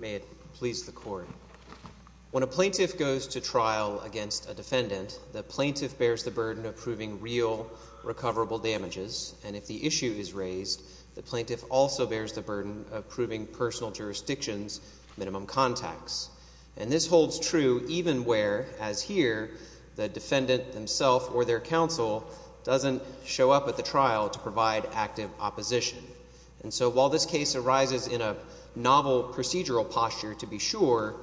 May it please the court. When a plaintiff goes to trial against a defendant, the plaintiff bears the burden of proving real, recoverable damages, and if the issue is raised, the plaintiff also bears the burden of proving personal jurisdiction's minimum contacts. And this plaintiff or their counsel doesn't show up at the trial to provide active opposition. And so while this case arises in a novel procedural posture, to be sure,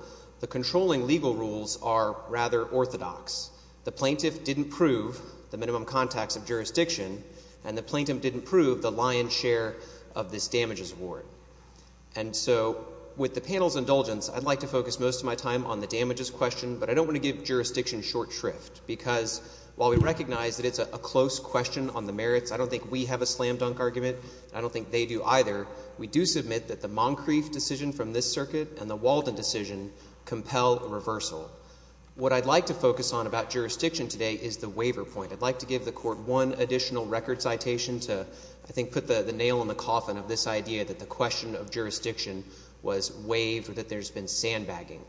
the controlling legal rules are rather orthodox. The plaintiff didn't prove the minimum contacts of jurisdiction, and the plaintiff didn't prove the lion's share of this damages award. And so with the panel's indulgence, I'd like to focus most of my time on the damages question, but I recognize that it's a close question on the merits. I don't think we have a slam-dunk argument. I don't think they do either. We do submit that the Moncrief decision from this circuit and the Walden decision compel a reversal. What I'd like to focus on about jurisdiction today is the waiver point. I'd like to give the court one additional record citation to, I think, put the nail in the coffin of this idea that the question of jurisdiction was waived or that there's been sandbagging.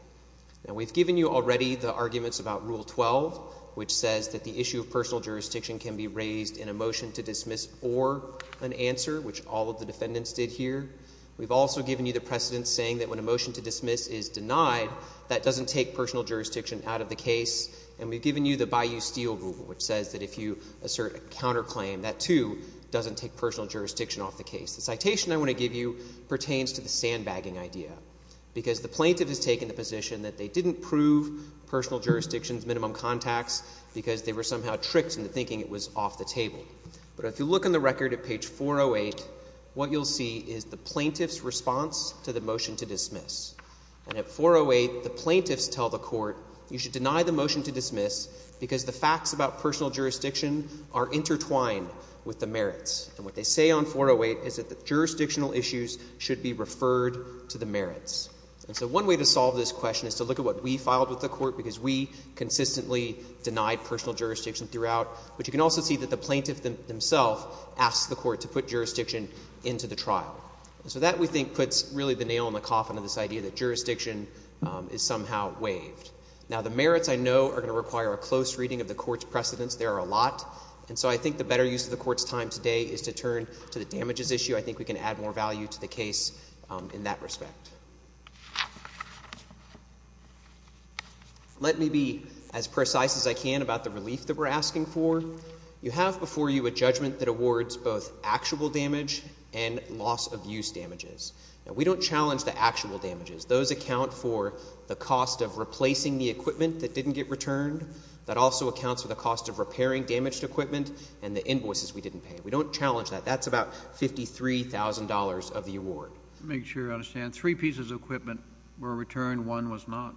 Now, we've given you already the arguments about Rule 12, which says that the issue of personal jurisdiction can be raised in a motion to dismiss or an answer, which all of the defendants did here. We've also given you the precedent saying that when a motion to dismiss is denied, that doesn't take personal jurisdiction out of the case. And we've given you the Bayou Steel Rule, which says that if you assert a counterclaim, that, too, doesn't take personal jurisdiction off the case. The citation I want to give you pertains to the sandbagging idea, because the plaintiff has taken the position that they didn't prove personal jurisdiction's minimum contacts because they were somehow tricked into thinking it was off the table. But if you look in the record at page 408, what you'll see is the plaintiff's response to the motion to dismiss. And at 408, the plaintiffs tell the court, you should deny the motion to dismiss because the facts about personal jurisdiction are intertwined with the merits. And what they say on 408 is that the jurisdictional issues should be referred to the merits. And so one way to solve this question is to look at what we filed with the court, because we consistently denied personal jurisdiction throughout. But you can also see that the plaintiff themself asked the court to put jurisdiction into the trial. And so that, we think, puts really the nail in the coffin of this idea that jurisdiction is somehow waived. Now, the merits, I know, are going to require a close reading of the court's precedents. There are a lot. And so I think the better use of the court's time today is to turn to the damages issue. I think we can add more value to the case in that respect. Let me be as precise as I can about the relief that we're asking for. You have before you a judgment that awards both actual damage and loss of use damages. Now, we don't challenge the actual damages. Those account for the cost of replacing the equipment that didn't get returned. That also accounts for the cost of repairing damaged equipment and the invoices we didn't pay. We don't challenge that. That's about $53,000 of the award. Let me make sure I understand. Three pieces of equipment were returned. One was not.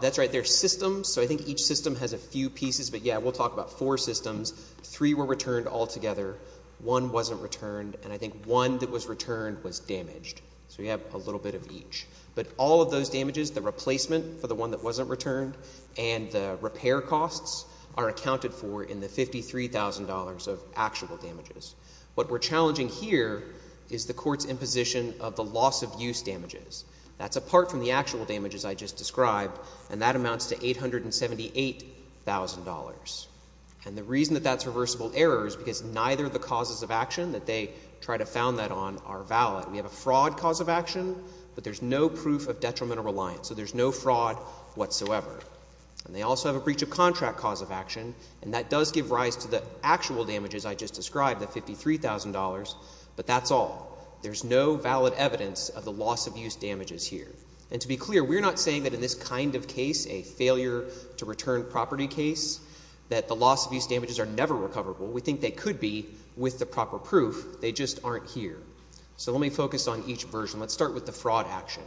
That's right. There are systems. So I think each system has a few pieces. But, yeah, we'll talk about four systems. Three were returned altogether. One wasn't returned. And I think one that was returned was damaged. So you have a little bit of each. But all of those damages, the replacement for the one that wasn't returned and the repair costs are accounted for in the $53,000 of actual damages. What we're challenging here is the court's imposition of the loss of use damages. That's apart from the actual damages I just described, and that amounts to $878,000. And the reason that that's reversible error is because neither of the causes of action that they try to found that on are valid. We have a fraud cause of action, but there's no proof of detrimental reliance. So there's no fraud whatsoever. And they also have a breach of contract cause of action. And that does give rise to the actual damages I just described, the $53,000. But that's all. There's no valid evidence of the loss of use damages here. And to be clear, we're not saying that in this kind of case, a failure to return property case, that the loss of use damages are never recoverable. We think they could be with the proper proof. They just aren't here. So let me focus on each version. Let's start with the fraud action.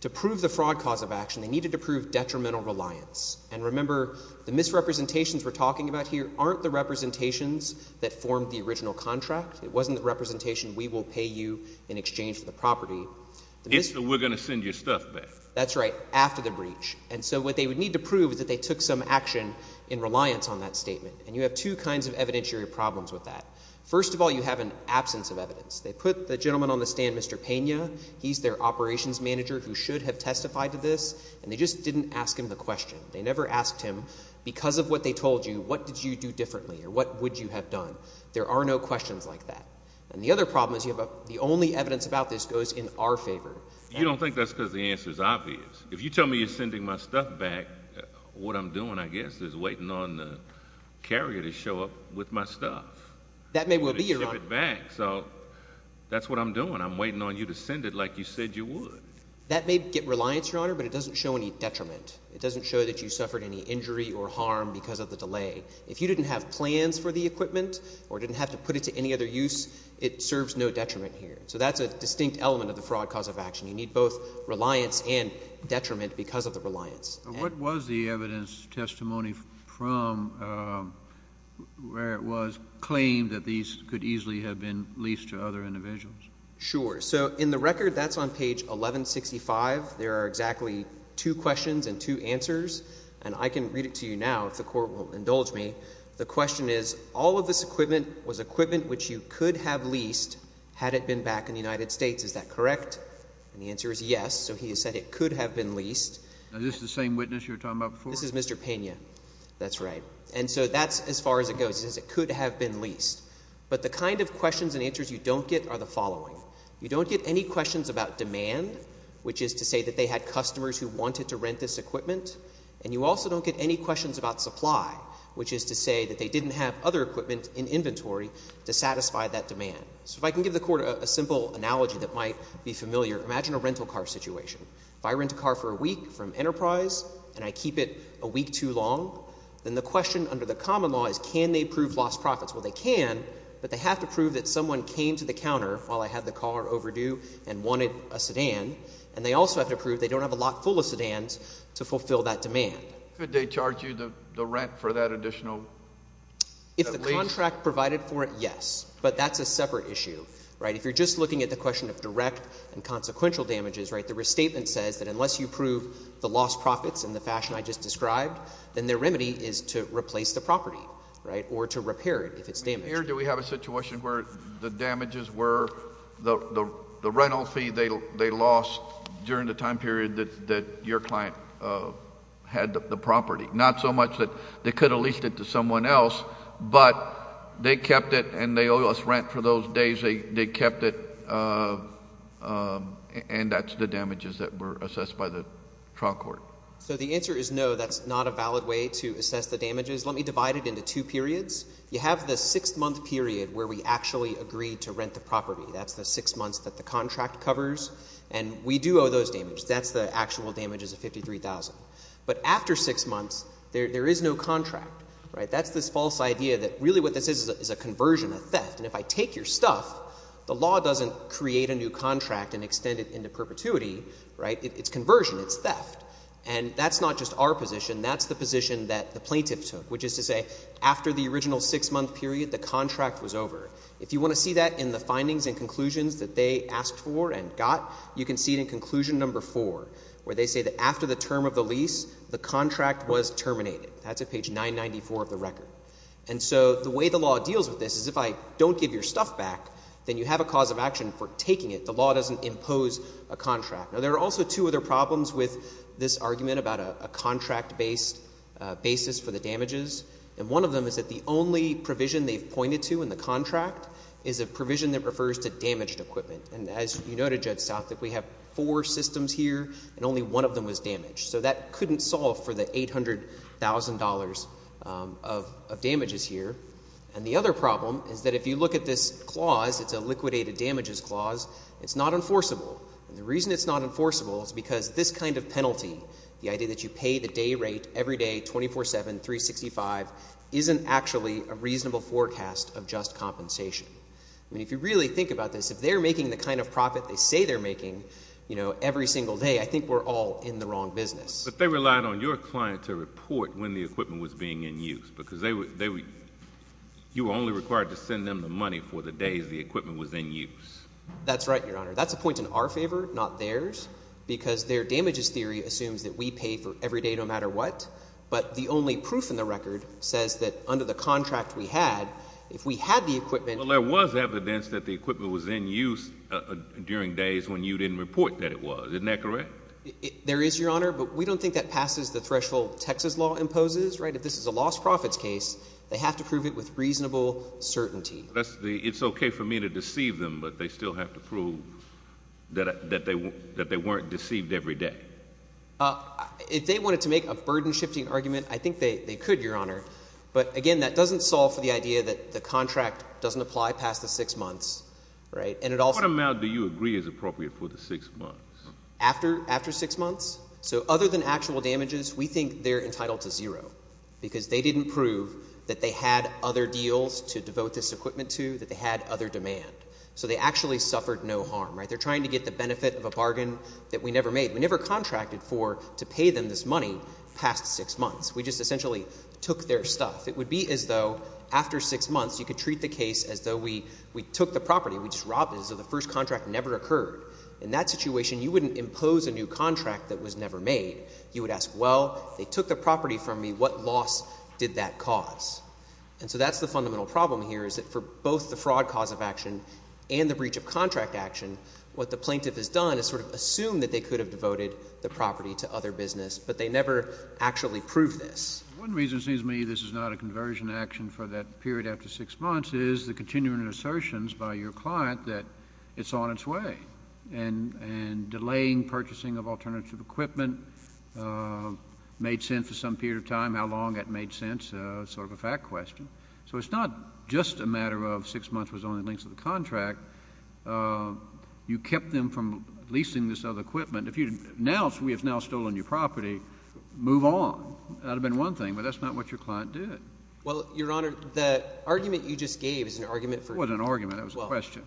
To prove the fraud cause of action, they needed to prove detrimental reliance. And remember, the misrepresentations we're talking about here aren't the representations that formed the original contract. It wasn't the representation, we will pay you in exchange for the property. It's the we're going to send your stuff back. That's right. After the breach. And so what they would need to prove is that they took some action in reliance on that statement. And you have two kinds of evidentiary problems with that. First of all, you have an absence of evidence. They put the gentleman on the stand, Mr. Pena. He's their operations manager who should have testified to this. And they just didn't ask him the question. They never asked him because of what they told you, what did you do differently or what would you have done? There are no questions like that. And the other problem is you have the only evidence about this goes in our favor. You don't think that's because the answer is obvious. If you tell me you're sending my stuff back, what I'm doing, I guess, is waiting on the carrier to show up with my stuff. That may well be your back. So that's what I'm doing. I'm waiting on you to send it like you said you would. That may get reliance, Your Honor, but it doesn't show any detriment. It doesn't show that you suffered any injury or harm because of the delay. If you didn't have plans for the equipment or didn't have to put it to any other use, it serves no detriment here. So that's a distinct element of the fraud cause of action. You need both reliance and detriment because of the reliance. What was the evidence testimony from where it was claimed that these could easily have been leased to other individuals? Sure. So in the record, that's on page 1165. There are exactly two questions and two answers, and I can read it to you now if the court will indulge me. The question is, all of this equipment was equipment which you could have leased had it been back in the United States. Is that correct? And the answer is yes. So he said it could have been leased. Is this the same witness you were talking about before? This is Mr. Pena. That's right. And so that's as far as it goes. It says it could have been leased. But the kind of questions and answers you don't get are the following. You don't get any questions about demand, which is to say that they had customers who wanted to rent this equipment, and you also don't get any questions about supply, which is to say that they didn't have other equipment in inventory to satisfy that demand. So if I can give the court a simple analogy that might be familiar. Imagine a rental car situation. If I rent a car for a week from Enterprise and I keep it a week too long, then the question under the common law is can they prove lost profits? Well, they can, but they have to prove that someone came to the counter while I had the car overdue and wanted a sedan, and they also have to prove they don't have a lot full of sedans to fulfill that demand. Could they charge you the rent for that additional lease? If the contract provided for it, yes. But that's a separate issue, right? If you're just looking at the question of direct and consequential damages, right, the restatement says that unless you prove the lost profits in the fashion I just described, then their remedy is to replace the property, right, or to repair it if it's damaged. Here do we have a situation where the damages were the rental fee they lost during the time period that your client had the property? Not so much that they could have leased it to someone else, but they kept it and they owe us rent for those days they kept it, and that's the damages that were assessed by the trial court. So the answer is no, that's not a valid way to assess the damages. Let me divide it into two periods. You have the six-month period where we actually agreed to rent the property. That's the six months that the contract covers, and we do owe those damages. That's the actual damages of $53,000. But after six months, there is no contract, right? That's this false idea that really what this is is a conversion, a theft, and if I take your stuff, the law doesn't create a new contract and extend it perpetuity, right? It's conversion. It's theft. And that's not just our position. That's the position that the plaintiff took, which is to say after the original six-month period, the contract was over. If you want to see that in the findings and conclusions that they asked for and got, you can see it in conclusion number four, where they say that after the term of the lease, the contract was terminated. That's at page 994 of the record. And so the way the law deals with this is if I don't give your stuff back, then you have a cause of action for taking it. The doesn't impose a contract. Now, there are also two other problems with this argument about a contract-based basis for the damages. And one of them is that the only provision they've pointed to in the contract is a provision that refers to damaged equipment. And as you know to Judge South, that we have four systems here, and only one of them was damaged. So that couldn't solve for the $800,000 of damages here. And the other problem is that if you look at this clause, it's a liquidated damages clause. It's not enforceable. And the reason it's not enforceable is because this kind of penalty, the idea that you pay the day rate every day, 24-7, 365, isn't actually a reasonable forecast of just compensation. I mean, if you really think about this, if they're making the kind of profit they say they're making every single day, I think we're all in the wrong business. But they relied on your client to report when the equipment was being in use. That's right, Your Honor. That's a point in our favor, not theirs, because their damages theory assumes that we pay for every day no matter what. But the only proof in the record says that under the contract we had, if we had the equipment— Well, there was evidence that the equipment was in use during days when you didn't report that it was. Isn't that correct? There is, Your Honor, but we don't think that passes the threshold Texas law imposes, right? If this is a lost certainty. It's okay for me to deceive them, but they still have to prove that they weren't deceived every day. If they wanted to make a burden-shifting argument, I think they could, Your Honor. But again, that doesn't solve for the idea that the contract doesn't apply past the six months, right? And it also— What amount do you agree is appropriate for the six months? After six months? So other than actual damages, we think they're entitled to zero, because they didn't prove that they had other deals to devote this equipment to, that they had other demand. So they actually suffered no harm, right? They're trying to get the benefit of a bargain that we never made. We never contracted for to pay them this money past six months. We just essentially took their stuff. It would be as though after six months, you could treat the case as though we took the property, we just robbed it, as though the first contract never occurred. In that situation, you wouldn't impose a new contract that was never made. You would ask, well, they took the property from me. What loss did that cause? And so that's the fundamental problem here, is that for both the fraud cause of action and the breach of contract action, what the plaintiff has done is sort of assumed that they could have devoted the property to other business, but they never actually proved this. One reason it seems to me this is not a conversion action for that period after six months is the continuing assertions by your client that it's on its way. And delaying purchasing of alternative equipment made sense for some period of time. How long that made sense is sort of a fact question. So it's not just a matter of six months was the only length of the contract. You kept them from leasing this other equipment. If we had now stolen your property, move on. That would have been one thing, but that's not what your client did. Well, Your Honor, the argument you just gave is an argument for— The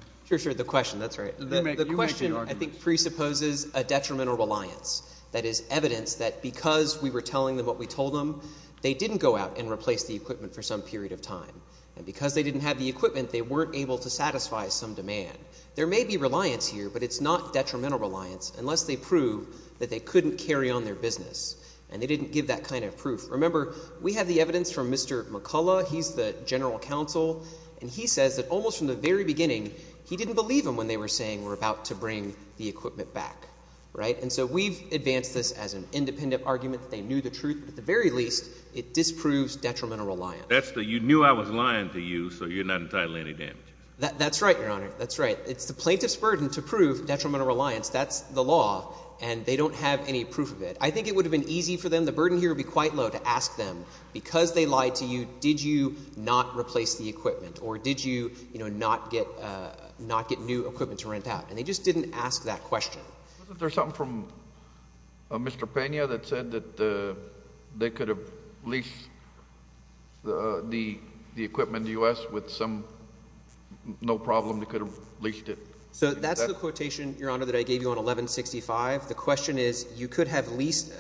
question, I think, presupposes a detrimental reliance. That is evidence that because we were telling them what we told them, they didn't go out and replace the equipment for some period of time. And because they didn't have the equipment, they weren't able to satisfy some demand. There may be reliance here, but it's not detrimental reliance unless they prove that they couldn't carry on their business, and they didn't give that kind of proof. Remember, we have the evidence from Mr. McCullough. He's the general counsel, and he says that almost from the very beginning, he didn't believe them when they were saying we're about to bring the equipment back, right? And so we've advanced this as an independent argument that they knew the truth. At the very least, it disproves detrimental reliance. That's the, you knew I was lying to you, so you're not entitled to any damage. That's right, Your Honor. That's right. It's the plaintiff's burden to prove detrimental reliance. That's the law, and they don't have any proof of it. I think it would have been easy for them. The burden here would be quite low to ask them, because they lied to you, did you not replace the equipment, or did you, you know, not get new equipment to rent out? And they just didn't ask that question. Wasn't there something from Mr. Pena that said that they could have leased the equipment to the U.S. with some, no problem, they could have leased it? So that's the quotation, Your Honor, that I gave you on 1165. The question is, you could have leased,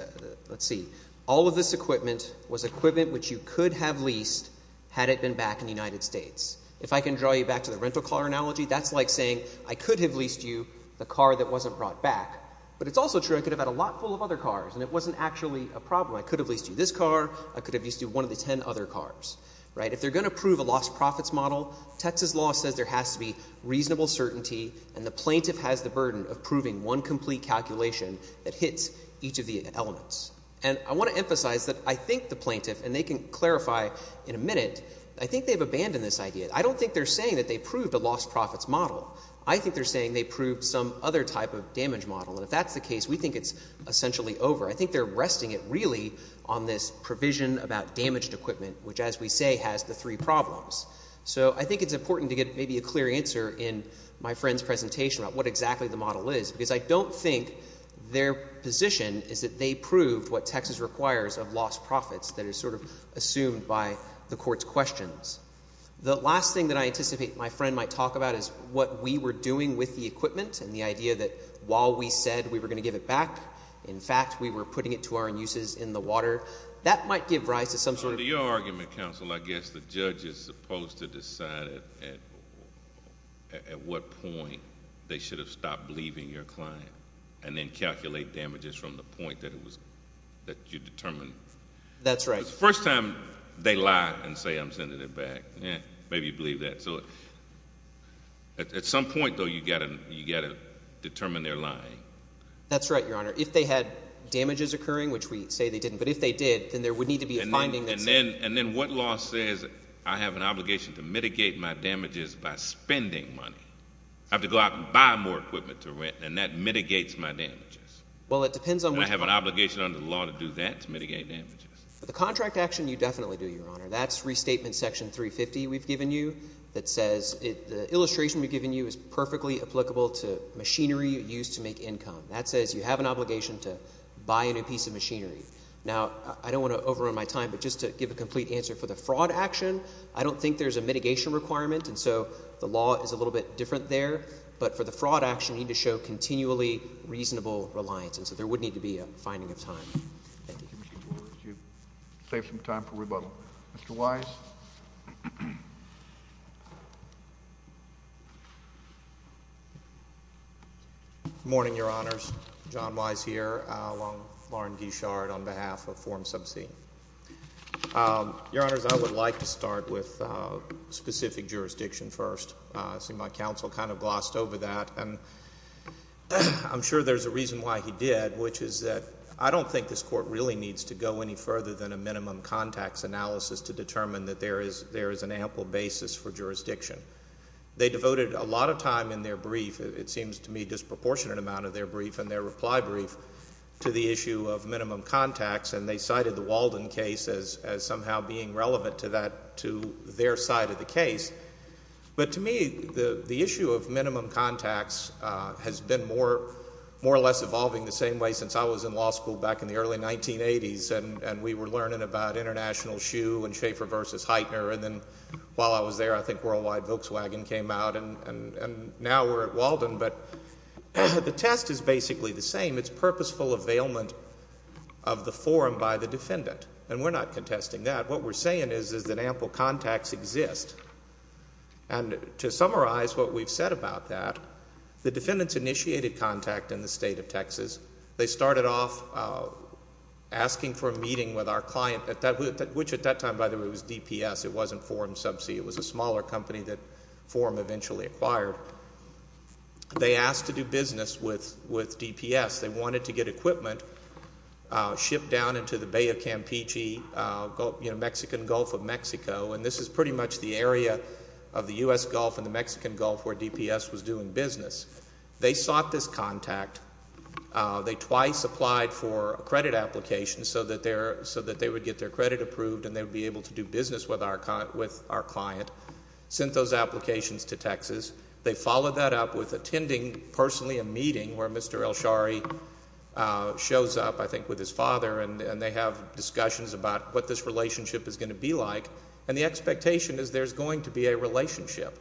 let's see, all of this equipment was equipment which you could have leased had it been back in the United States. If I can draw you back to the rental car analogy, that's like saying I could have leased you the car that wasn't brought back. But it's also true, I could have had a lot full of other cars, and it wasn't actually a problem. I could have leased you this car, I could have leased you one of the ten other cars, right? If they're going to prove a lost profits model, Texas law says there has to be reasonable certainty, and the plaintiff has the burden of proving one complete calculation that hits each of the elements. And I want to emphasize that I think the plaintiff, and they can clarify in a minute, I think they've abandoned this idea. I don't think they're saying that they proved a lost profits model. I think they're saying they proved some other type of damage model. And if that's the case, we think it's essentially over. I think they're resting it really on this provision about damaged equipment, which, as we say, has the three problems. So I think it's important to get maybe a clear answer in my friend's presentation about what exactly the model is, because I don't think their position is that they proved what Texas requires of lost profits that is sort of assumed by the Court's questions. The last thing that I anticipate my friend might talk about is what we were doing with the equipment and the idea that while we said we were going to give it back, in fact, we were putting it to our uses in the water. That might give rise to some sort of— At what point they should have stopped believing your client and then calculate damages from the point that it was—that you determined. That's right. The first time they lie and say I'm sending it back. Maybe you believe that. So at some point, though, you've got to determine they're lying. That's right, Your Honor. If they had damages occurring, which we say they didn't, but if they did, then there would need to be a finding that said— And then what law says I have an obligation to mitigate my damages by spending money. I have to go out and buy more equipment to rent, and that mitigates my damages. Well, it depends on which— And I have an obligation under the law to do that, to mitigate damages. The contract action, you definitely do, Your Honor. That's Restatement Section 350 we've given you that says—the illustration we've given you is perfectly applicable to machinery used to make income. That says you have an obligation to buy a new piece of machinery. Now, I don't want to answer for the fraud action. I don't think there's a mitigation requirement, and so the law is a little bit different there. But for the fraud action, you need to show continually reasonable reliance. And so there would need to be a finding of time. Thank you. Mr. Borges, you've saved some time for rebuttal. Mr. Wise? Good morning, Your Honors. John Wise here, along Lauren Guichard on behalf of Form Sub C. Your Honors, I would like to start with specific jurisdiction first. I see my counsel kind of glossed over that, and I'm sure there's a reason why he did, which is that I don't think this Court really needs to go any further than a minimum contacts analysis to determine that there is an ample basis for jurisdiction. They devoted a lot of time in their brief—it seems to me disproportionate amount of their brief and their reply brief—to the issue of minimum contacts, and they cited the Walden case as somehow being relevant to that, to their side of the case. But to me, the issue of minimum contacts has been more or less evolving the same way since I was in law school back in the early 1980s, and we were learning about International Shoe and Schaefer v. Heitner, and then while I was there, I think Worldwide Volkswagen came out, and now we're at Walden. But the test is basically the same. It's purposeful availment of the forum by the defendant, and we're not contesting that. What we're saying is that ample contacts exist, and to summarize what we've said about that, the defendants initiated contact in the State of Texas. They started off asking for a meeting with our client, which at that time, by the way, was DPS. It wasn't Forum Subsea. It was a smaller company that Forum eventually acquired. They asked to do business with DPS. They wanted to get equipment shipped down into the Bay of Campeche, Mexican Gulf of Mexico, and this is pretty much the area of the U.S. Gulf and the Mexican Gulf where DPS was doing business. They sought this contact. They twice applied for a credit application so that they would get their credit approved and they would be able to do They followed that up with attending personally a meeting where Mr. Elshari shows up, I think, with his father, and they have discussions about what this relationship is going to be like, and the expectation is there's going to be a relationship,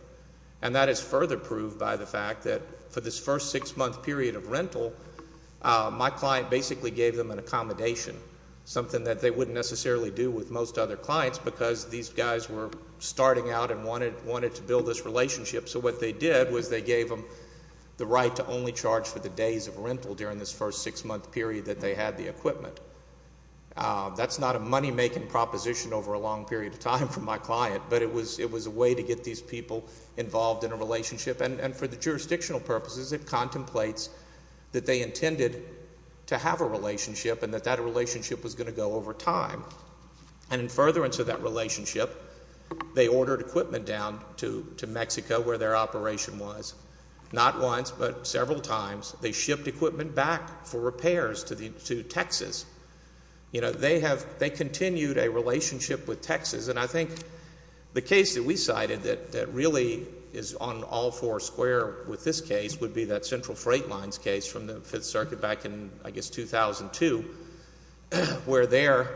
and that is further proved by the fact that for this first six-month period of rental, my client basically gave them an accommodation, something that they wouldn't necessarily do with most other clients because these guys were starting out and wanted to build this relationship, so what they did was they gave them the right to only charge for the days of rental during this first six-month period that they had the equipment. That's not a money-making proposition over a long period of time for my client, but it was a way to get these people involved in a relationship, and for the jurisdictional purposes, it contemplates that they intended to have a relationship and that that relationship was going to go over time, and in furtherance of that their operation was, not once but several times, they shipped equipment back for repairs to Texas. They continued a relationship with Texas, and I think the case that we cited that really is on all four square with this case would be that Central Freight Lines case from the Fifth Circuit back in, I guess, 2002, where there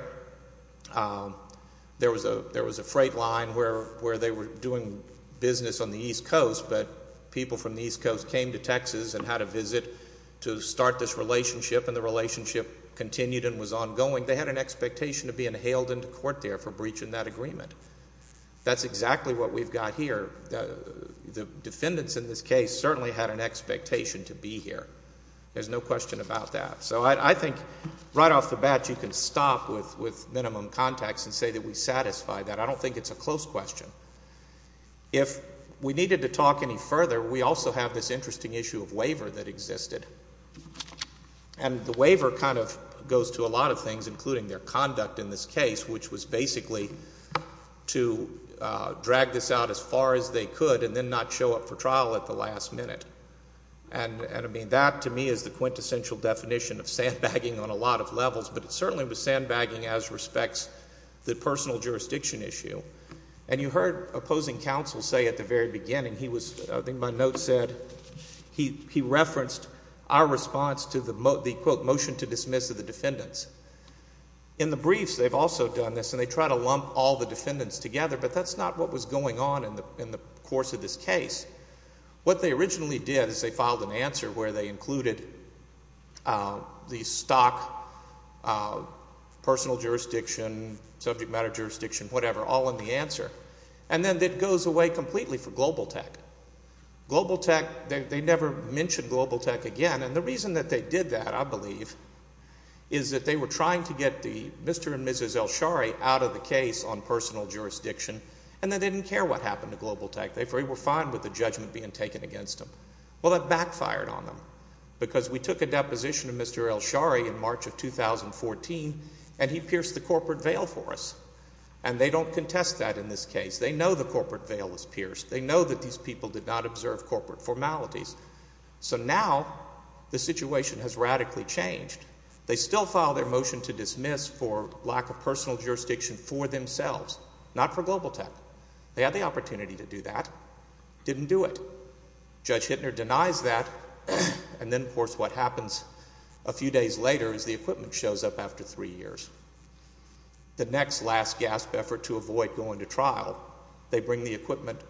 was a freight line where they were doing business on the East Coast, but people from the East Coast came to Texas and had a visit to start this relationship, and the relationship continued and was ongoing. They had an expectation of being hailed into court there for breaching that agreement. That's exactly what we've got here. The defendants in this case certainly had an expectation to be here. There's no question about that. So I think right off the bat you can stop with minimum context and say that we if we needed to talk any further, we also have this interesting issue of waiver that existed, and the waiver kind of goes to a lot of things, including their conduct in this case, which was basically to drag this out as far as they could and then not show up for trial at the last minute, and I mean that to me is the quintessential definition of sandbagging on a lot of levels, but it certainly was sandbagging as respects the personal jurisdiction issue, and you heard opposing counsel say at the very beginning he was I think my note said he referenced our response to the quote motion to dismiss of the defendants. In the briefs they've also done this, and they try to lump all the defendants together, but that's not what was going on in the course of this case. What they originally did is they filed an answer where they included the stock personal jurisdiction, subject matter jurisdiction, whatever, all in the answer, and then it goes away completely for Global Tech. Global Tech, they never mentioned Global Tech again, and the reason that they did that, I believe, is that they were trying to get the Mr. and Mrs. Elshary out of the case on personal jurisdiction, and they didn't care what happened to Global Tech. They were fine with the judgment being taken against them. Well, that backfired on them because we took a deposition of Mr. Elshary in March of 2014, and he pierced the corporate veil. They know that these people did not observe corporate formalities, so now the situation has radically changed. They still filed their motion to dismiss for lack of personal jurisdiction for themselves, not for Global Tech. They had the opportunity to do that. Didn't do it. Judge Hittner denies that, and then, of course, what happens a few days later is the equipment shows up after three years. The next last gasp effort to avoid going to trial, they bring the equipment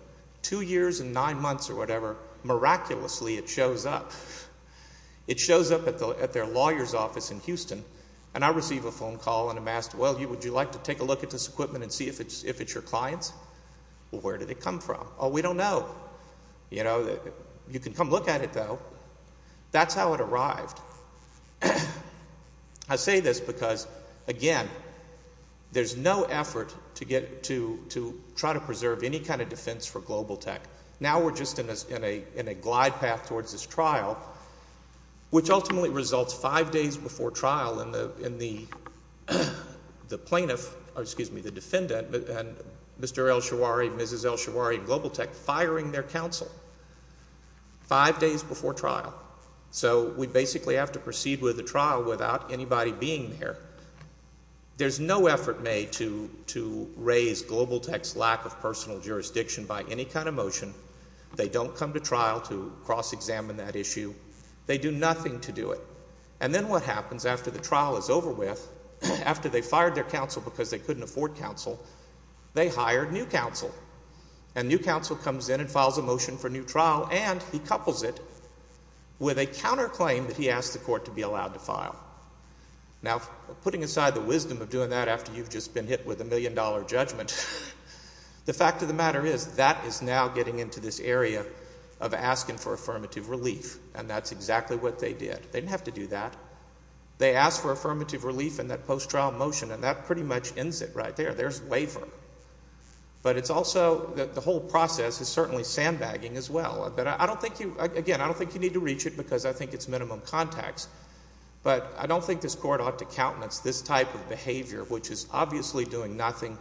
two years and nine months or whatever. Miraculously, it shows up. It shows up at their lawyer's office in Houston, and I receive a phone call, and I'm asked, well, would you like to take a look at this equipment and see if it's your client's? Well, where did it come from? Oh, we don't know. You know, you can come look at it, though. That's how it arrived. I say this because, again, there's no effort to try to preserve any kind of defense for Global Tech. Now we're just in a glide path towards this trial, which ultimately results five days before trial in the plaintiff, excuse me, the defendant, and Mr. El-Shawari, Mrs. El-Shawari, and Global Tech's counsel. Five days before trial. So we basically have to proceed with the trial without anybody being there. There's no effort made to raise Global Tech's lack of personal jurisdiction by any kind of motion. They don't come to trial to cross-examine that issue. They do nothing to do it. And then what happens after the trial is over with, after they fired their counsel because they couldn't afford counsel, they hired new counsel. And new counsel comes in and files a motion for new trial, and he couples it with a counterclaim that he asked the court to be allowed to file. Now, putting aside the wisdom of doing that after you've just been hit with a million dollar judgment, the fact of the matter is that is now getting into this area of asking for affirmative relief. And that's exactly what they did. They didn't have to do that. They asked for their counsel to be allowed to file a motion, and that's exactly what they did, and that's exactly what they did. And I don't think you need to reach it because I think it's minimum context, but I don't think this Court ought to countenance this type of behavior, which is obviously doing nothing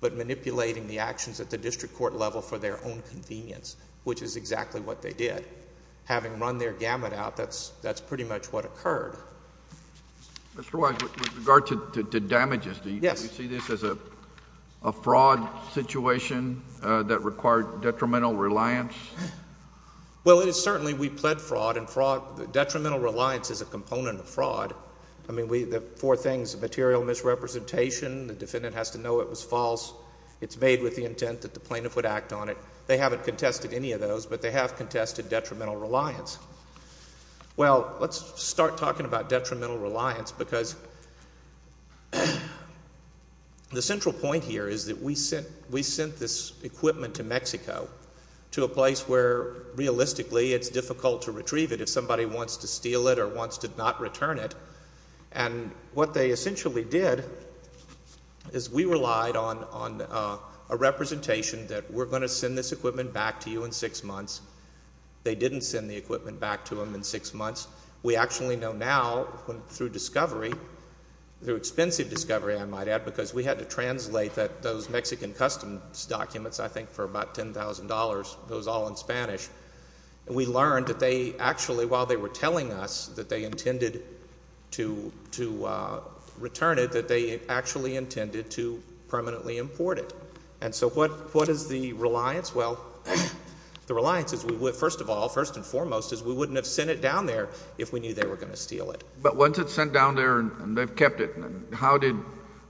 but manipulating the actions at the district court level for their own convenience, which is exactly what they did. Having run their gamut out, that's pretty much what occurred. Mr. Wise, with regard to damages, do you see this as a fraud situation that required detrimental reliance? Well, it is certainly we pled fraud, and fraud, detrimental reliance is a component of fraud. I mean, the four things, material misrepresentation, the defendant has to know it was false, it's made with the intent that the plaintiff would act on it. They haven't contested any of those, but they have contested detrimental reliance. Well, let's start talking about detrimental reliance because the central point here is that we sent this equipment to Mexico to a place where realistically it's difficult to retrieve it if somebody wants to steal it or wants to not return it, and what they essentially did is we relied on a representation that we're going to send this equipment back to you in six months. They didn't send the equipment back to them in six months. We actually know now through discovery, through expensive discovery, I might add, because we had to translate those Mexican customs documents, I think, for about $10,000, those all in Spanish, and we learned that they actually, while they were telling us that they intended to return it, that they actually intended to permanently import it, and so what is the reliance? Well, the reliance is we would, first of all, first and foremost, is we wouldn't have sent it down there if we knew they were going to steal it. But once it's sent down there and they've kept it, how did,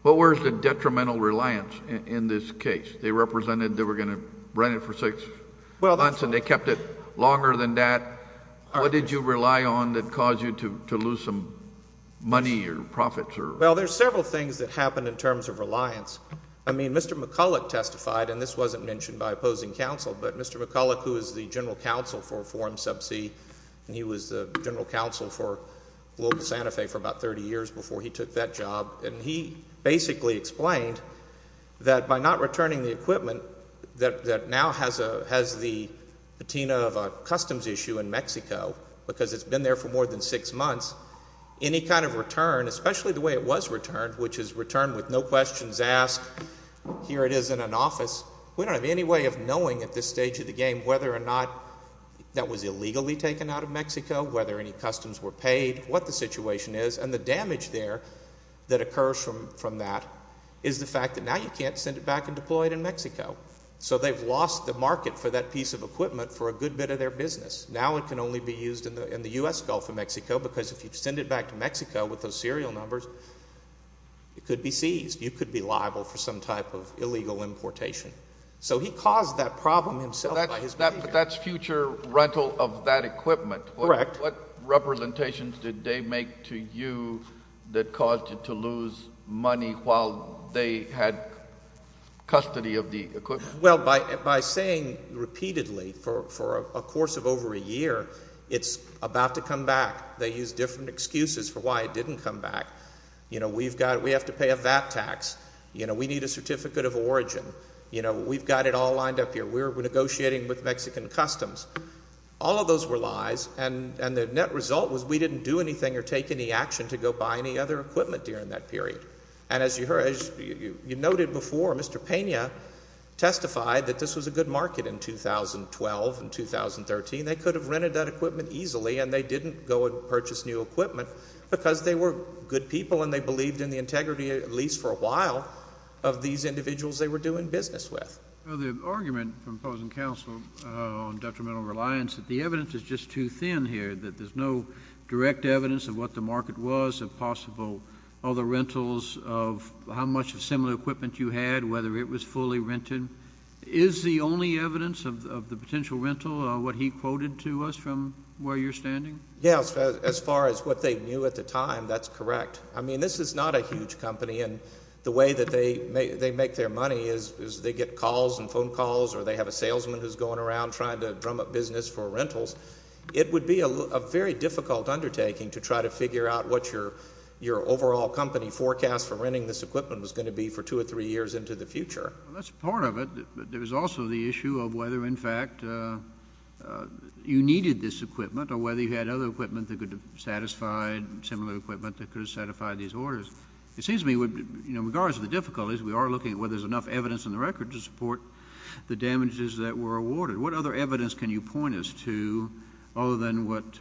what was the detrimental reliance in this case? They represented they were going to rent it for six months and they kept it longer than that. What did you rely on that caused you to lose some money or profits? Well, there's several things that happened in terms of reliance. I mean, Mr. McCulloch testified, and this wasn't mentioned by opposing counsel, but Mr. McCulloch, who is the general counsel for Forum Subsea, and he was the general counsel for Global Santa Fe for about 30 years before he took that job, and he basically explained that by not returning the equipment that now has the patina of a customs issue in Mexico, because it's been there for more than six months, any kind of return, especially the way it was returned, which is returned with no questions asked, here it is in an office, we don't have any way of knowing at this stage of the game whether or not that was illegally taken out of Mexico, whether any customs were paid, what the situation is, and the damage there that occurs from that is the fact that now you can't send it back and deploy it in Mexico. So they've lost the market for that piece of equipment for a good bit of their business. Now it can only be used in the U.S. Gulf of Mexico, because if you send it back to Mexico with those serial numbers, it could be seized. You could be liable for some type of illegal importation. So he caused that problem himself by his behavior. That's future rental of that equipment. Correct. What representations did they make to you that caused you to lose money while they had custody of the equipment? Well, by saying repeatedly for a course of over a year, it's about to come back, they used different excuses for why it didn't come back. You know, we have to pay a VAT tax, you know, we need a certificate of origin, you know, we've got it all lined up here, we're negotiating with Mexican customs. All of those were lies, and the net result was we didn't do anything or take any action to go buy any other equipment during that period. And as you heard, as you noted before, Mr. Pena testified that this was a good market in 2012 and 2013. They could have rented that equipment easily and they didn't go and purchase new equipment because they were good people and they believed in the integrity, at least for a while, of these individuals they were doing business with. Well, the argument from opposing counsel on detrimental reliance, that the evidence is just too thin here, that there's no direct evidence of what the market was, of possible other rentals, of how much of similar equipment you had, whether it was fully rented. Is the only evidence of the potential rental what he quoted to us from where you're standing? Yes, as far as what they knew at the time, that's correct. I mean, this is not a huge company and the way that they make their money is they get calls and phone calls or they have a salesman who's going around trying to drum up business for rentals. It would be a very difficult undertaking to try to figure out what your overall company forecast for renting this equipment was going to be for two or three years into the future. That's part of it. There was also the issue of whether, in fact, you needed this equipment or whether you had other equipment that could have satisfied, similar equipment that could have satisfied these orders. It seems to me, regardless of the difficulties, we are looking at whether there's enough evidence in the record to support the damages that were awarded. What other evidence can you point us to other than what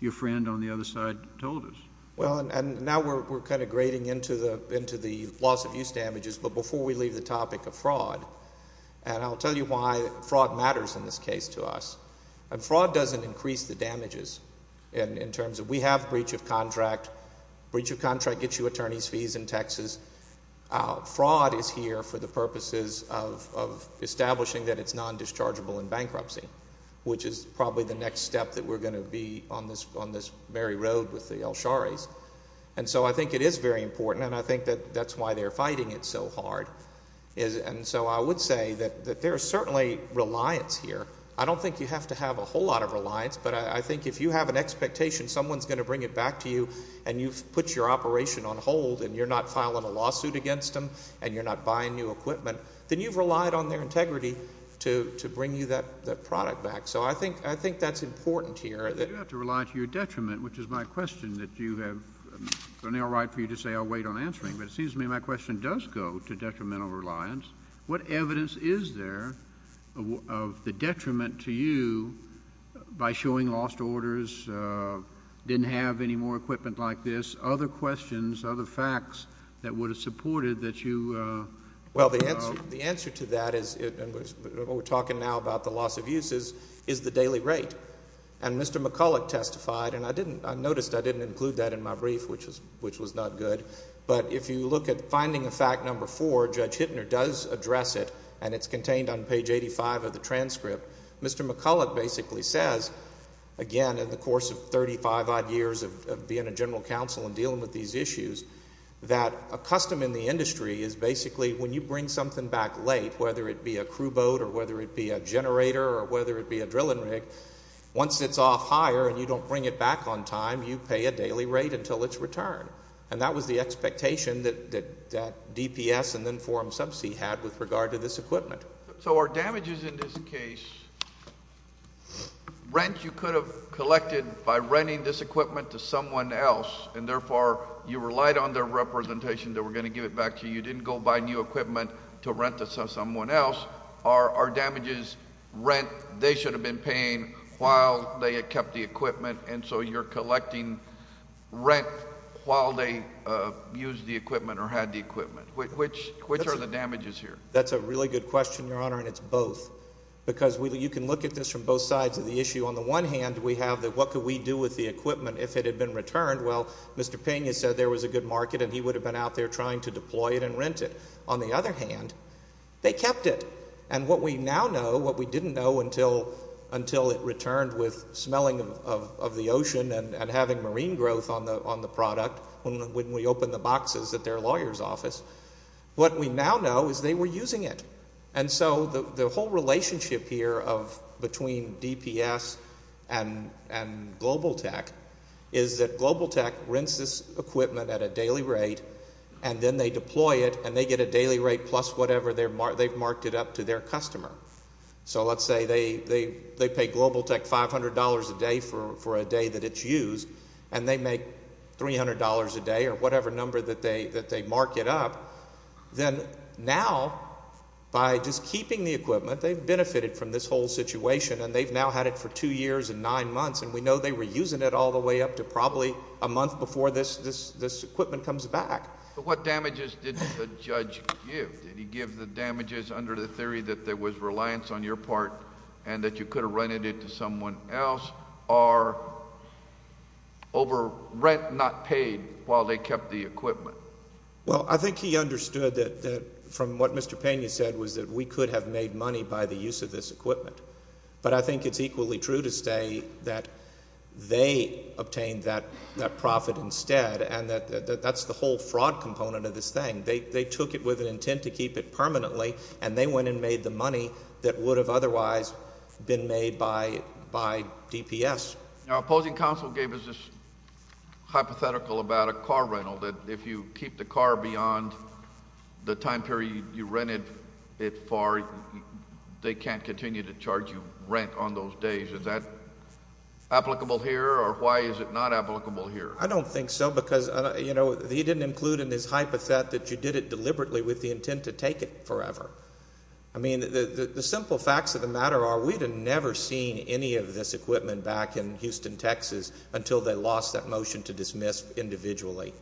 your friend on the other side told us? Well, and now we're kind of grading into the loss of use damages, but before we leave the topic of fraud, and I'll tell you why fraud matters in this case to us. Fraud doesn't increase the damages in terms of we have breach of contract. Breach of contract gets you attorney's fees and taxes. Fraud is here for the purposes of establishing that it's non-dischargeable in this case. And so I think it is very important, and I think that's why they're fighting it so hard. And so I would say that there is certainly reliance here. I don't think you have to have a whole lot of reliance, but I think if you have an expectation someone's going to bring it back to you and you've put your operation on hold and you're not filing a lawsuit against them and you're not buying new equipment, then you've relied on their integrity to bring you that equipment back. So I think that's important here. But you don't have to rely to your detriment, which is my question that you have... and I'll write for you to say I'll wait on answering, but it seems to me my question does go to detrimental reliance. What evidence is there of the detriment to you by showing lost orders, didn't have any more equipment like this, other questions, other facts that would have supported that you... Well, the answer to that is... and we're talking now about the loss of use is the daily rate. And Mr. McCulloch testified, and I didn't... I noticed I didn't include that in my brief, which was not good. But if you look at finding a fact number four, Judge Hittner does address it, and it's contained on page 85 of the transcript. Mr. McCulloch basically says, again, in the course of 35-odd years of being a general counsel and dealing with these issues, that a custom in the industry is basically when you bring something back late, whether it be a crew boat or whether it be a generator or whether it be a drilling rig, once it's off hire and you don't bring it back on time, you pay a daily rate until it's returned. And that was the expectation that DPS and then Forum Subsea had with regard to this equipment. So are damages in this case rent you could have collected by renting this equipment to someone else and therefore you relied on their representation that we're going to give it back to you, you didn't go buy new equipment to rent to someone else, are damages rent they should have been paying while they had kept the equipment and so you're collecting rent while they used the equipment or had the equipment? Which are the damages here? That's a really good question, Your Honor, and it's both. Because you can look at this from both sides of the issue. On the one hand, we have what could we do with the equipment if it had been returned? Well, Mr. Pena said there was a good market and he would have been out trying to deploy it and rent it. On the other hand, they kept it. And what we now know, what we didn't know until it returned with smelling of the ocean and having marine growth on the product when we opened the boxes at their lawyer's office, what we now know is they were using it. And so the whole relationship here of between DPS and Global Tech is that Global Tech rents equipment at a daily rate and then they deploy it and they get a daily rate plus whatever they've marked it up to their customer. So let's say they pay Global Tech $500 a day for a day that it's used and they make $300 a day or whatever number that they mark it up, then now by just keeping the equipment, they've benefited from this whole situation and they've now had it for two years and nine months. And we know they were using it all the way up to probably a month before this equipment comes back. But what damages did the judge give? Did he give the damages under the theory that there was reliance on your part and that you could have rented it to someone else or over rent not paid while they kept the equipment? Well, I think he understood that from what Mr. Pena said was that we could have made money by the use of this equipment. But I think it's equally true to say that they obtained that profit instead and that's the whole fraud component of this thing. They took it with an intent to keep it permanently and they went and made the money that would have otherwise been made by DPS. Now opposing counsel gave us this hypothetical about a car rental that if you keep the car beyond the time period you rented it for, they can't continue to charge you rent on those days. Is that applicable here or why is it not applicable here? I don't think so because, you know, he didn't include in his hypothet that you did it deliberately with the intent to take it forever. I mean, the simple facts of the matter are we'd have never seen any of this equipment back in Houston, Texas until they lost that motion to dismiss individually.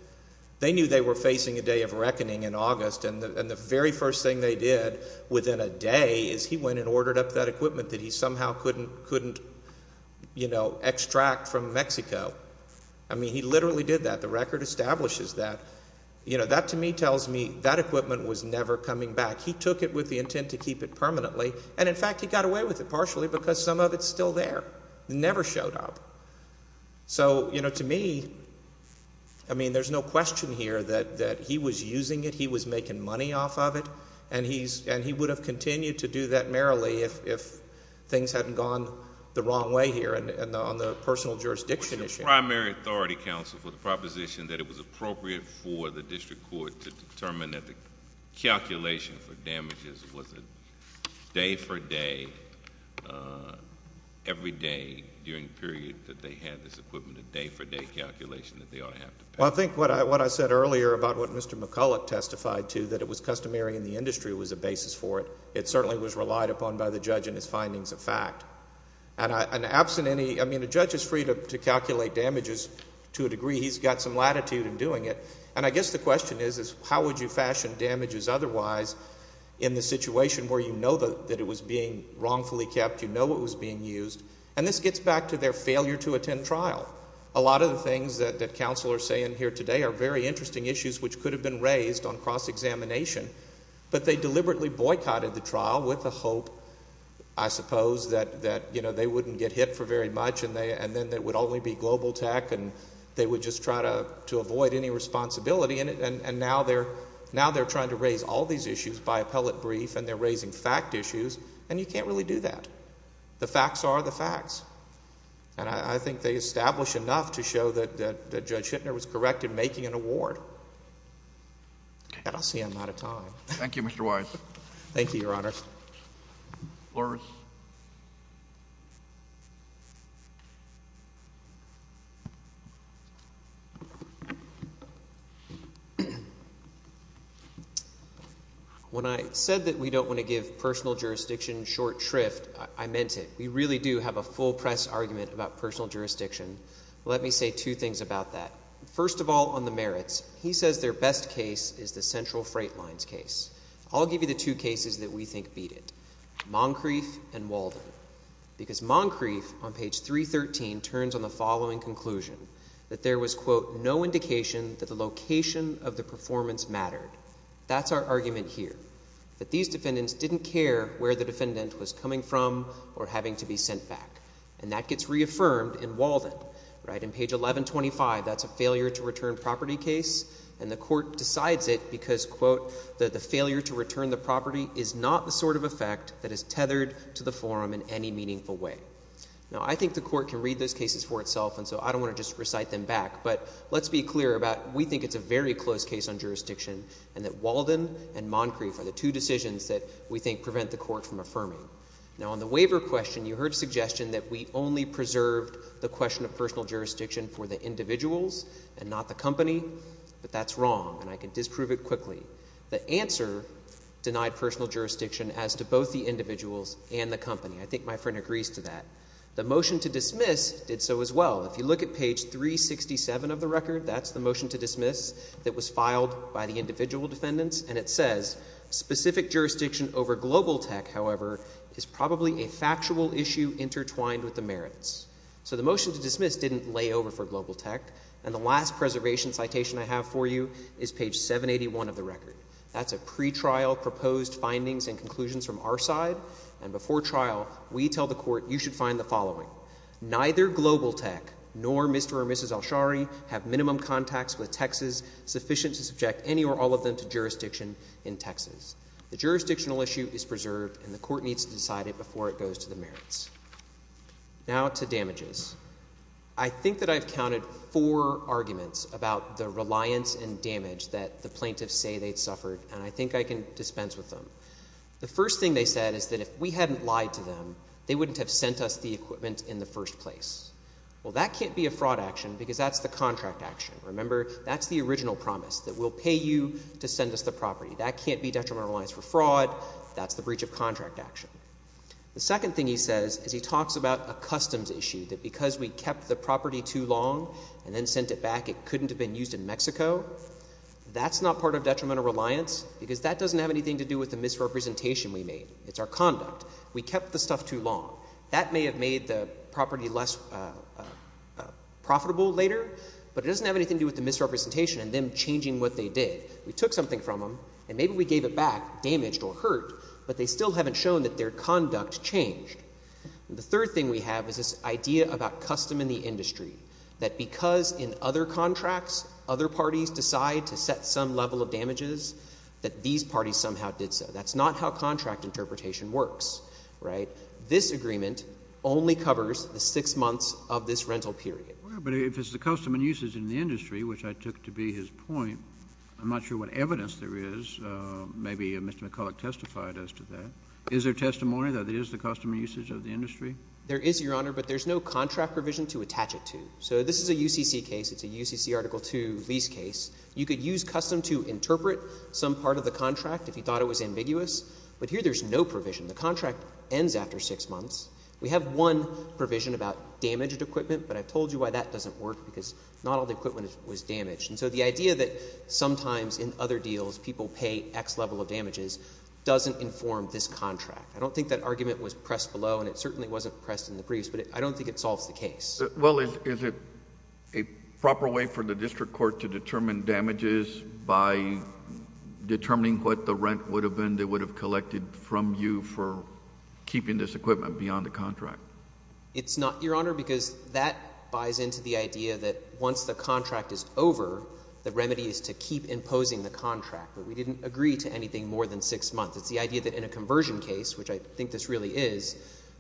They knew they were facing a day of reckoning in August and the very first thing they did within a day is he went and ordered up that equipment that he somehow couldn't, you know, extract from Mexico. I mean, he literally did that. The record establishes that. You know, that to me tells me that equipment was never coming back. He took it with the intent to keep it permanently and in fact he got away with it partially because some of it's still there. It never showed up. So, you know, to me, I mean, there's no question here that he was using it, he was making money off of it and he's and he would have continued to do that merrily if things hadn't gone the wrong way here and on the personal jurisdiction issue. Was the primary authority counsel for the proposition that it was appropriate for the district court to determine that the calculation for damages was a day for day, every day during the period that they had this equipment, a day for day calculation that they ought to have? Well, I think what I said earlier about what Mr. McCulloch testified to that it was customary in the industry was a basis for it. It certainly was relied upon by the judge in his findings of fact. And absent any, I mean, a judge is free to calculate damages to a degree. He's got some latitude in doing it. And I guess the question is, is how would you fashion damages otherwise in the situation where you know that it was being wrongfully kept, you know it was being used? And this gets back to their failure to attend trial. A lot of the things that counsel are saying here today are very interesting issues which could have been raised on cross-examination. But they deliberately boycotted the trial with the hope, I suppose, that you know they wouldn't get hit for very much and then it would only be global tech and they would just try to avoid any responsibility. And now they're trying to raise all these issues by appellate brief and they're raising fact issues. And you can't really do that. The facts are the facts. And I think they establish enough to show that Judge Hittner was correct in making an award. And I see I'm out of time. Thank you, Mr. Wise. Thank you, Your Honor. When I said that we don't want to give personal jurisdiction short shrift, I meant it. We really do have a full press argument about personal jurisdiction. Let me say two things about that. First of all, on the merits, he says their best case is the Central Freight Lines case. I'll give you the two cases that we think beat it. Moncrief and Walden. Because Moncrief on page 313 turns on the following conclusion, that there was, quote, no indication that the location of the performance mattered. That's our argument here. That these defendants didn't care where the defendant was coming from or having to be sent back. And that gets reaffirmed in Walden, right? Page 1125, that's a failure to return property case. And the court decides it because, quote, that the failure to return the property is not the sort of effect that is tethered to the forum in any meaningful way. Now, I think the court can read those cases for itself, and so I don't want to just recite them back. But let's be clear about we think it's a very close case on jurisdiction and that Walden and Moncrief are the two decisions that we think prevent the court from affirming. Now, on the waiver question, you heard a suggestion that we only preserved the question of personal jurisdiction for the individuals and not the company. But that's wrong, and I can disprove it quickly. The answer denied personal jurisdiction as to both the individuals and the company. I think my friend agrees to that. The motion to dismiss did so as well. If you look at page 367 of the record, that's the motion to dismiss that was filed by the individual defendants. And it says, specific jurisdiction over global tech, however, is probably a factual issue intertwined with the merits. So the motion to dismiss didn't lay over for global tech. And the last preservation citation I have for you is page 781 of the record. That's a pretrial proposed findings and conclusions from our side. And before trial, we tell the court, you should find the following. Neither global tech nor Mr. or Mrs. Alshari have minimum contacts with Texas sufficient to subject any or all of them to jurisdiction in Texas. The jurisdictional issue is preserved, and the court needs to decide it before it goes to the merits. Now to damages. I think that I've counted four arguments about the reliance and damage that the plaintiffs say they'd suffered, and I think I can dispense with them. The first thing they said is that if we hadn't lied to them, they wouldn't have sent us the equipment in the first place. Well, that can't be a fraud action, because that's the contract action. Remember, that's the original promise that we'll pay you to send us the property. That can't be detrimental reliance for fraud. That's the breach of contract action. The second thing he says is he talks about a customs issue, that because we kept the property too long and then sent it back, it couldn't have been used in Mexico. That's not part of detrimental reliance, because that doesn't have anything to do with the misrepresentation we made. It's our conduct. We kept the stuff too long. That may have made the property less profitable later, but it doesn't have anything to do with the misrepresentation and them changing what they did. We took something from them, and maybe we gave it back damaged or hurt, but they still haven't shown that their conduct changed. The third thing we have is this idea about custom in the industry, that because in other contracts other parties decide to set some level of damages, that these parties somehow did so. That's not how contract interpretation works, right? This agreement only covers the six months of this rental period. But if it's the custom and usage in the industry, which I took to be his point, I'm not sure what evidence there is. Maybe Mr. McCulloch testified as to that. Is there testimony that it is the custom and usage of the industry? There is, Your Honor, but there's no contract provision to attach it to. So this is a UCC case. It's a UCC Article II lease case. You could use custom to interpret some part of the contract if you thought it was ambiguous, but here there's no provision. The contract ends after six months. We have one provision about damaged equipment, but I've told you why that doesn't work, because not all the equipment was damaged. And so the idea that sometimes in other deals people pay X level of damages doesn't inform this contract. I don't think that argument was pressed below, and it certainly wasn't pressed in the briefs, but I don't think it solves the case. Well, is it a proper way for the district court to determine damages by determining what the rent would have been they would have collected from you for keeping this contract? It's not, Your Honor, because that buys into the idea that once the contract is over, the remedy is to keep imposing the contract. But we didn't agree to anything more than six months. It's the idea that in a conversion case, which I think this really is,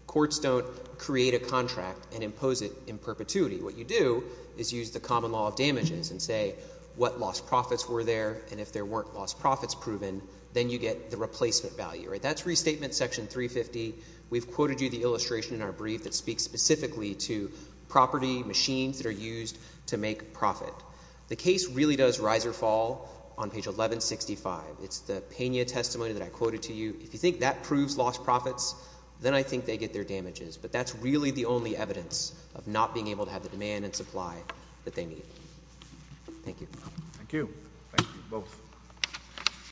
courts don't create a contract and impose it in perpetuity. What you do is use the common law of damages and say what lost profits were there, and if there weren't lost profits proven, then you get the replacement value. That's Restatement Section 350. We've quoted you the illustration in our brief that speaks specifically to property machines that are used to make profit. The case really does rise or fall on page 1165. It's the Pena testimony that I quoted to you. If you think that proves lost profits, then I think they get their damages. But that's really the only evidence of not being able to have the demand and supply that they need. Thank you. Thank you. Thank you, both.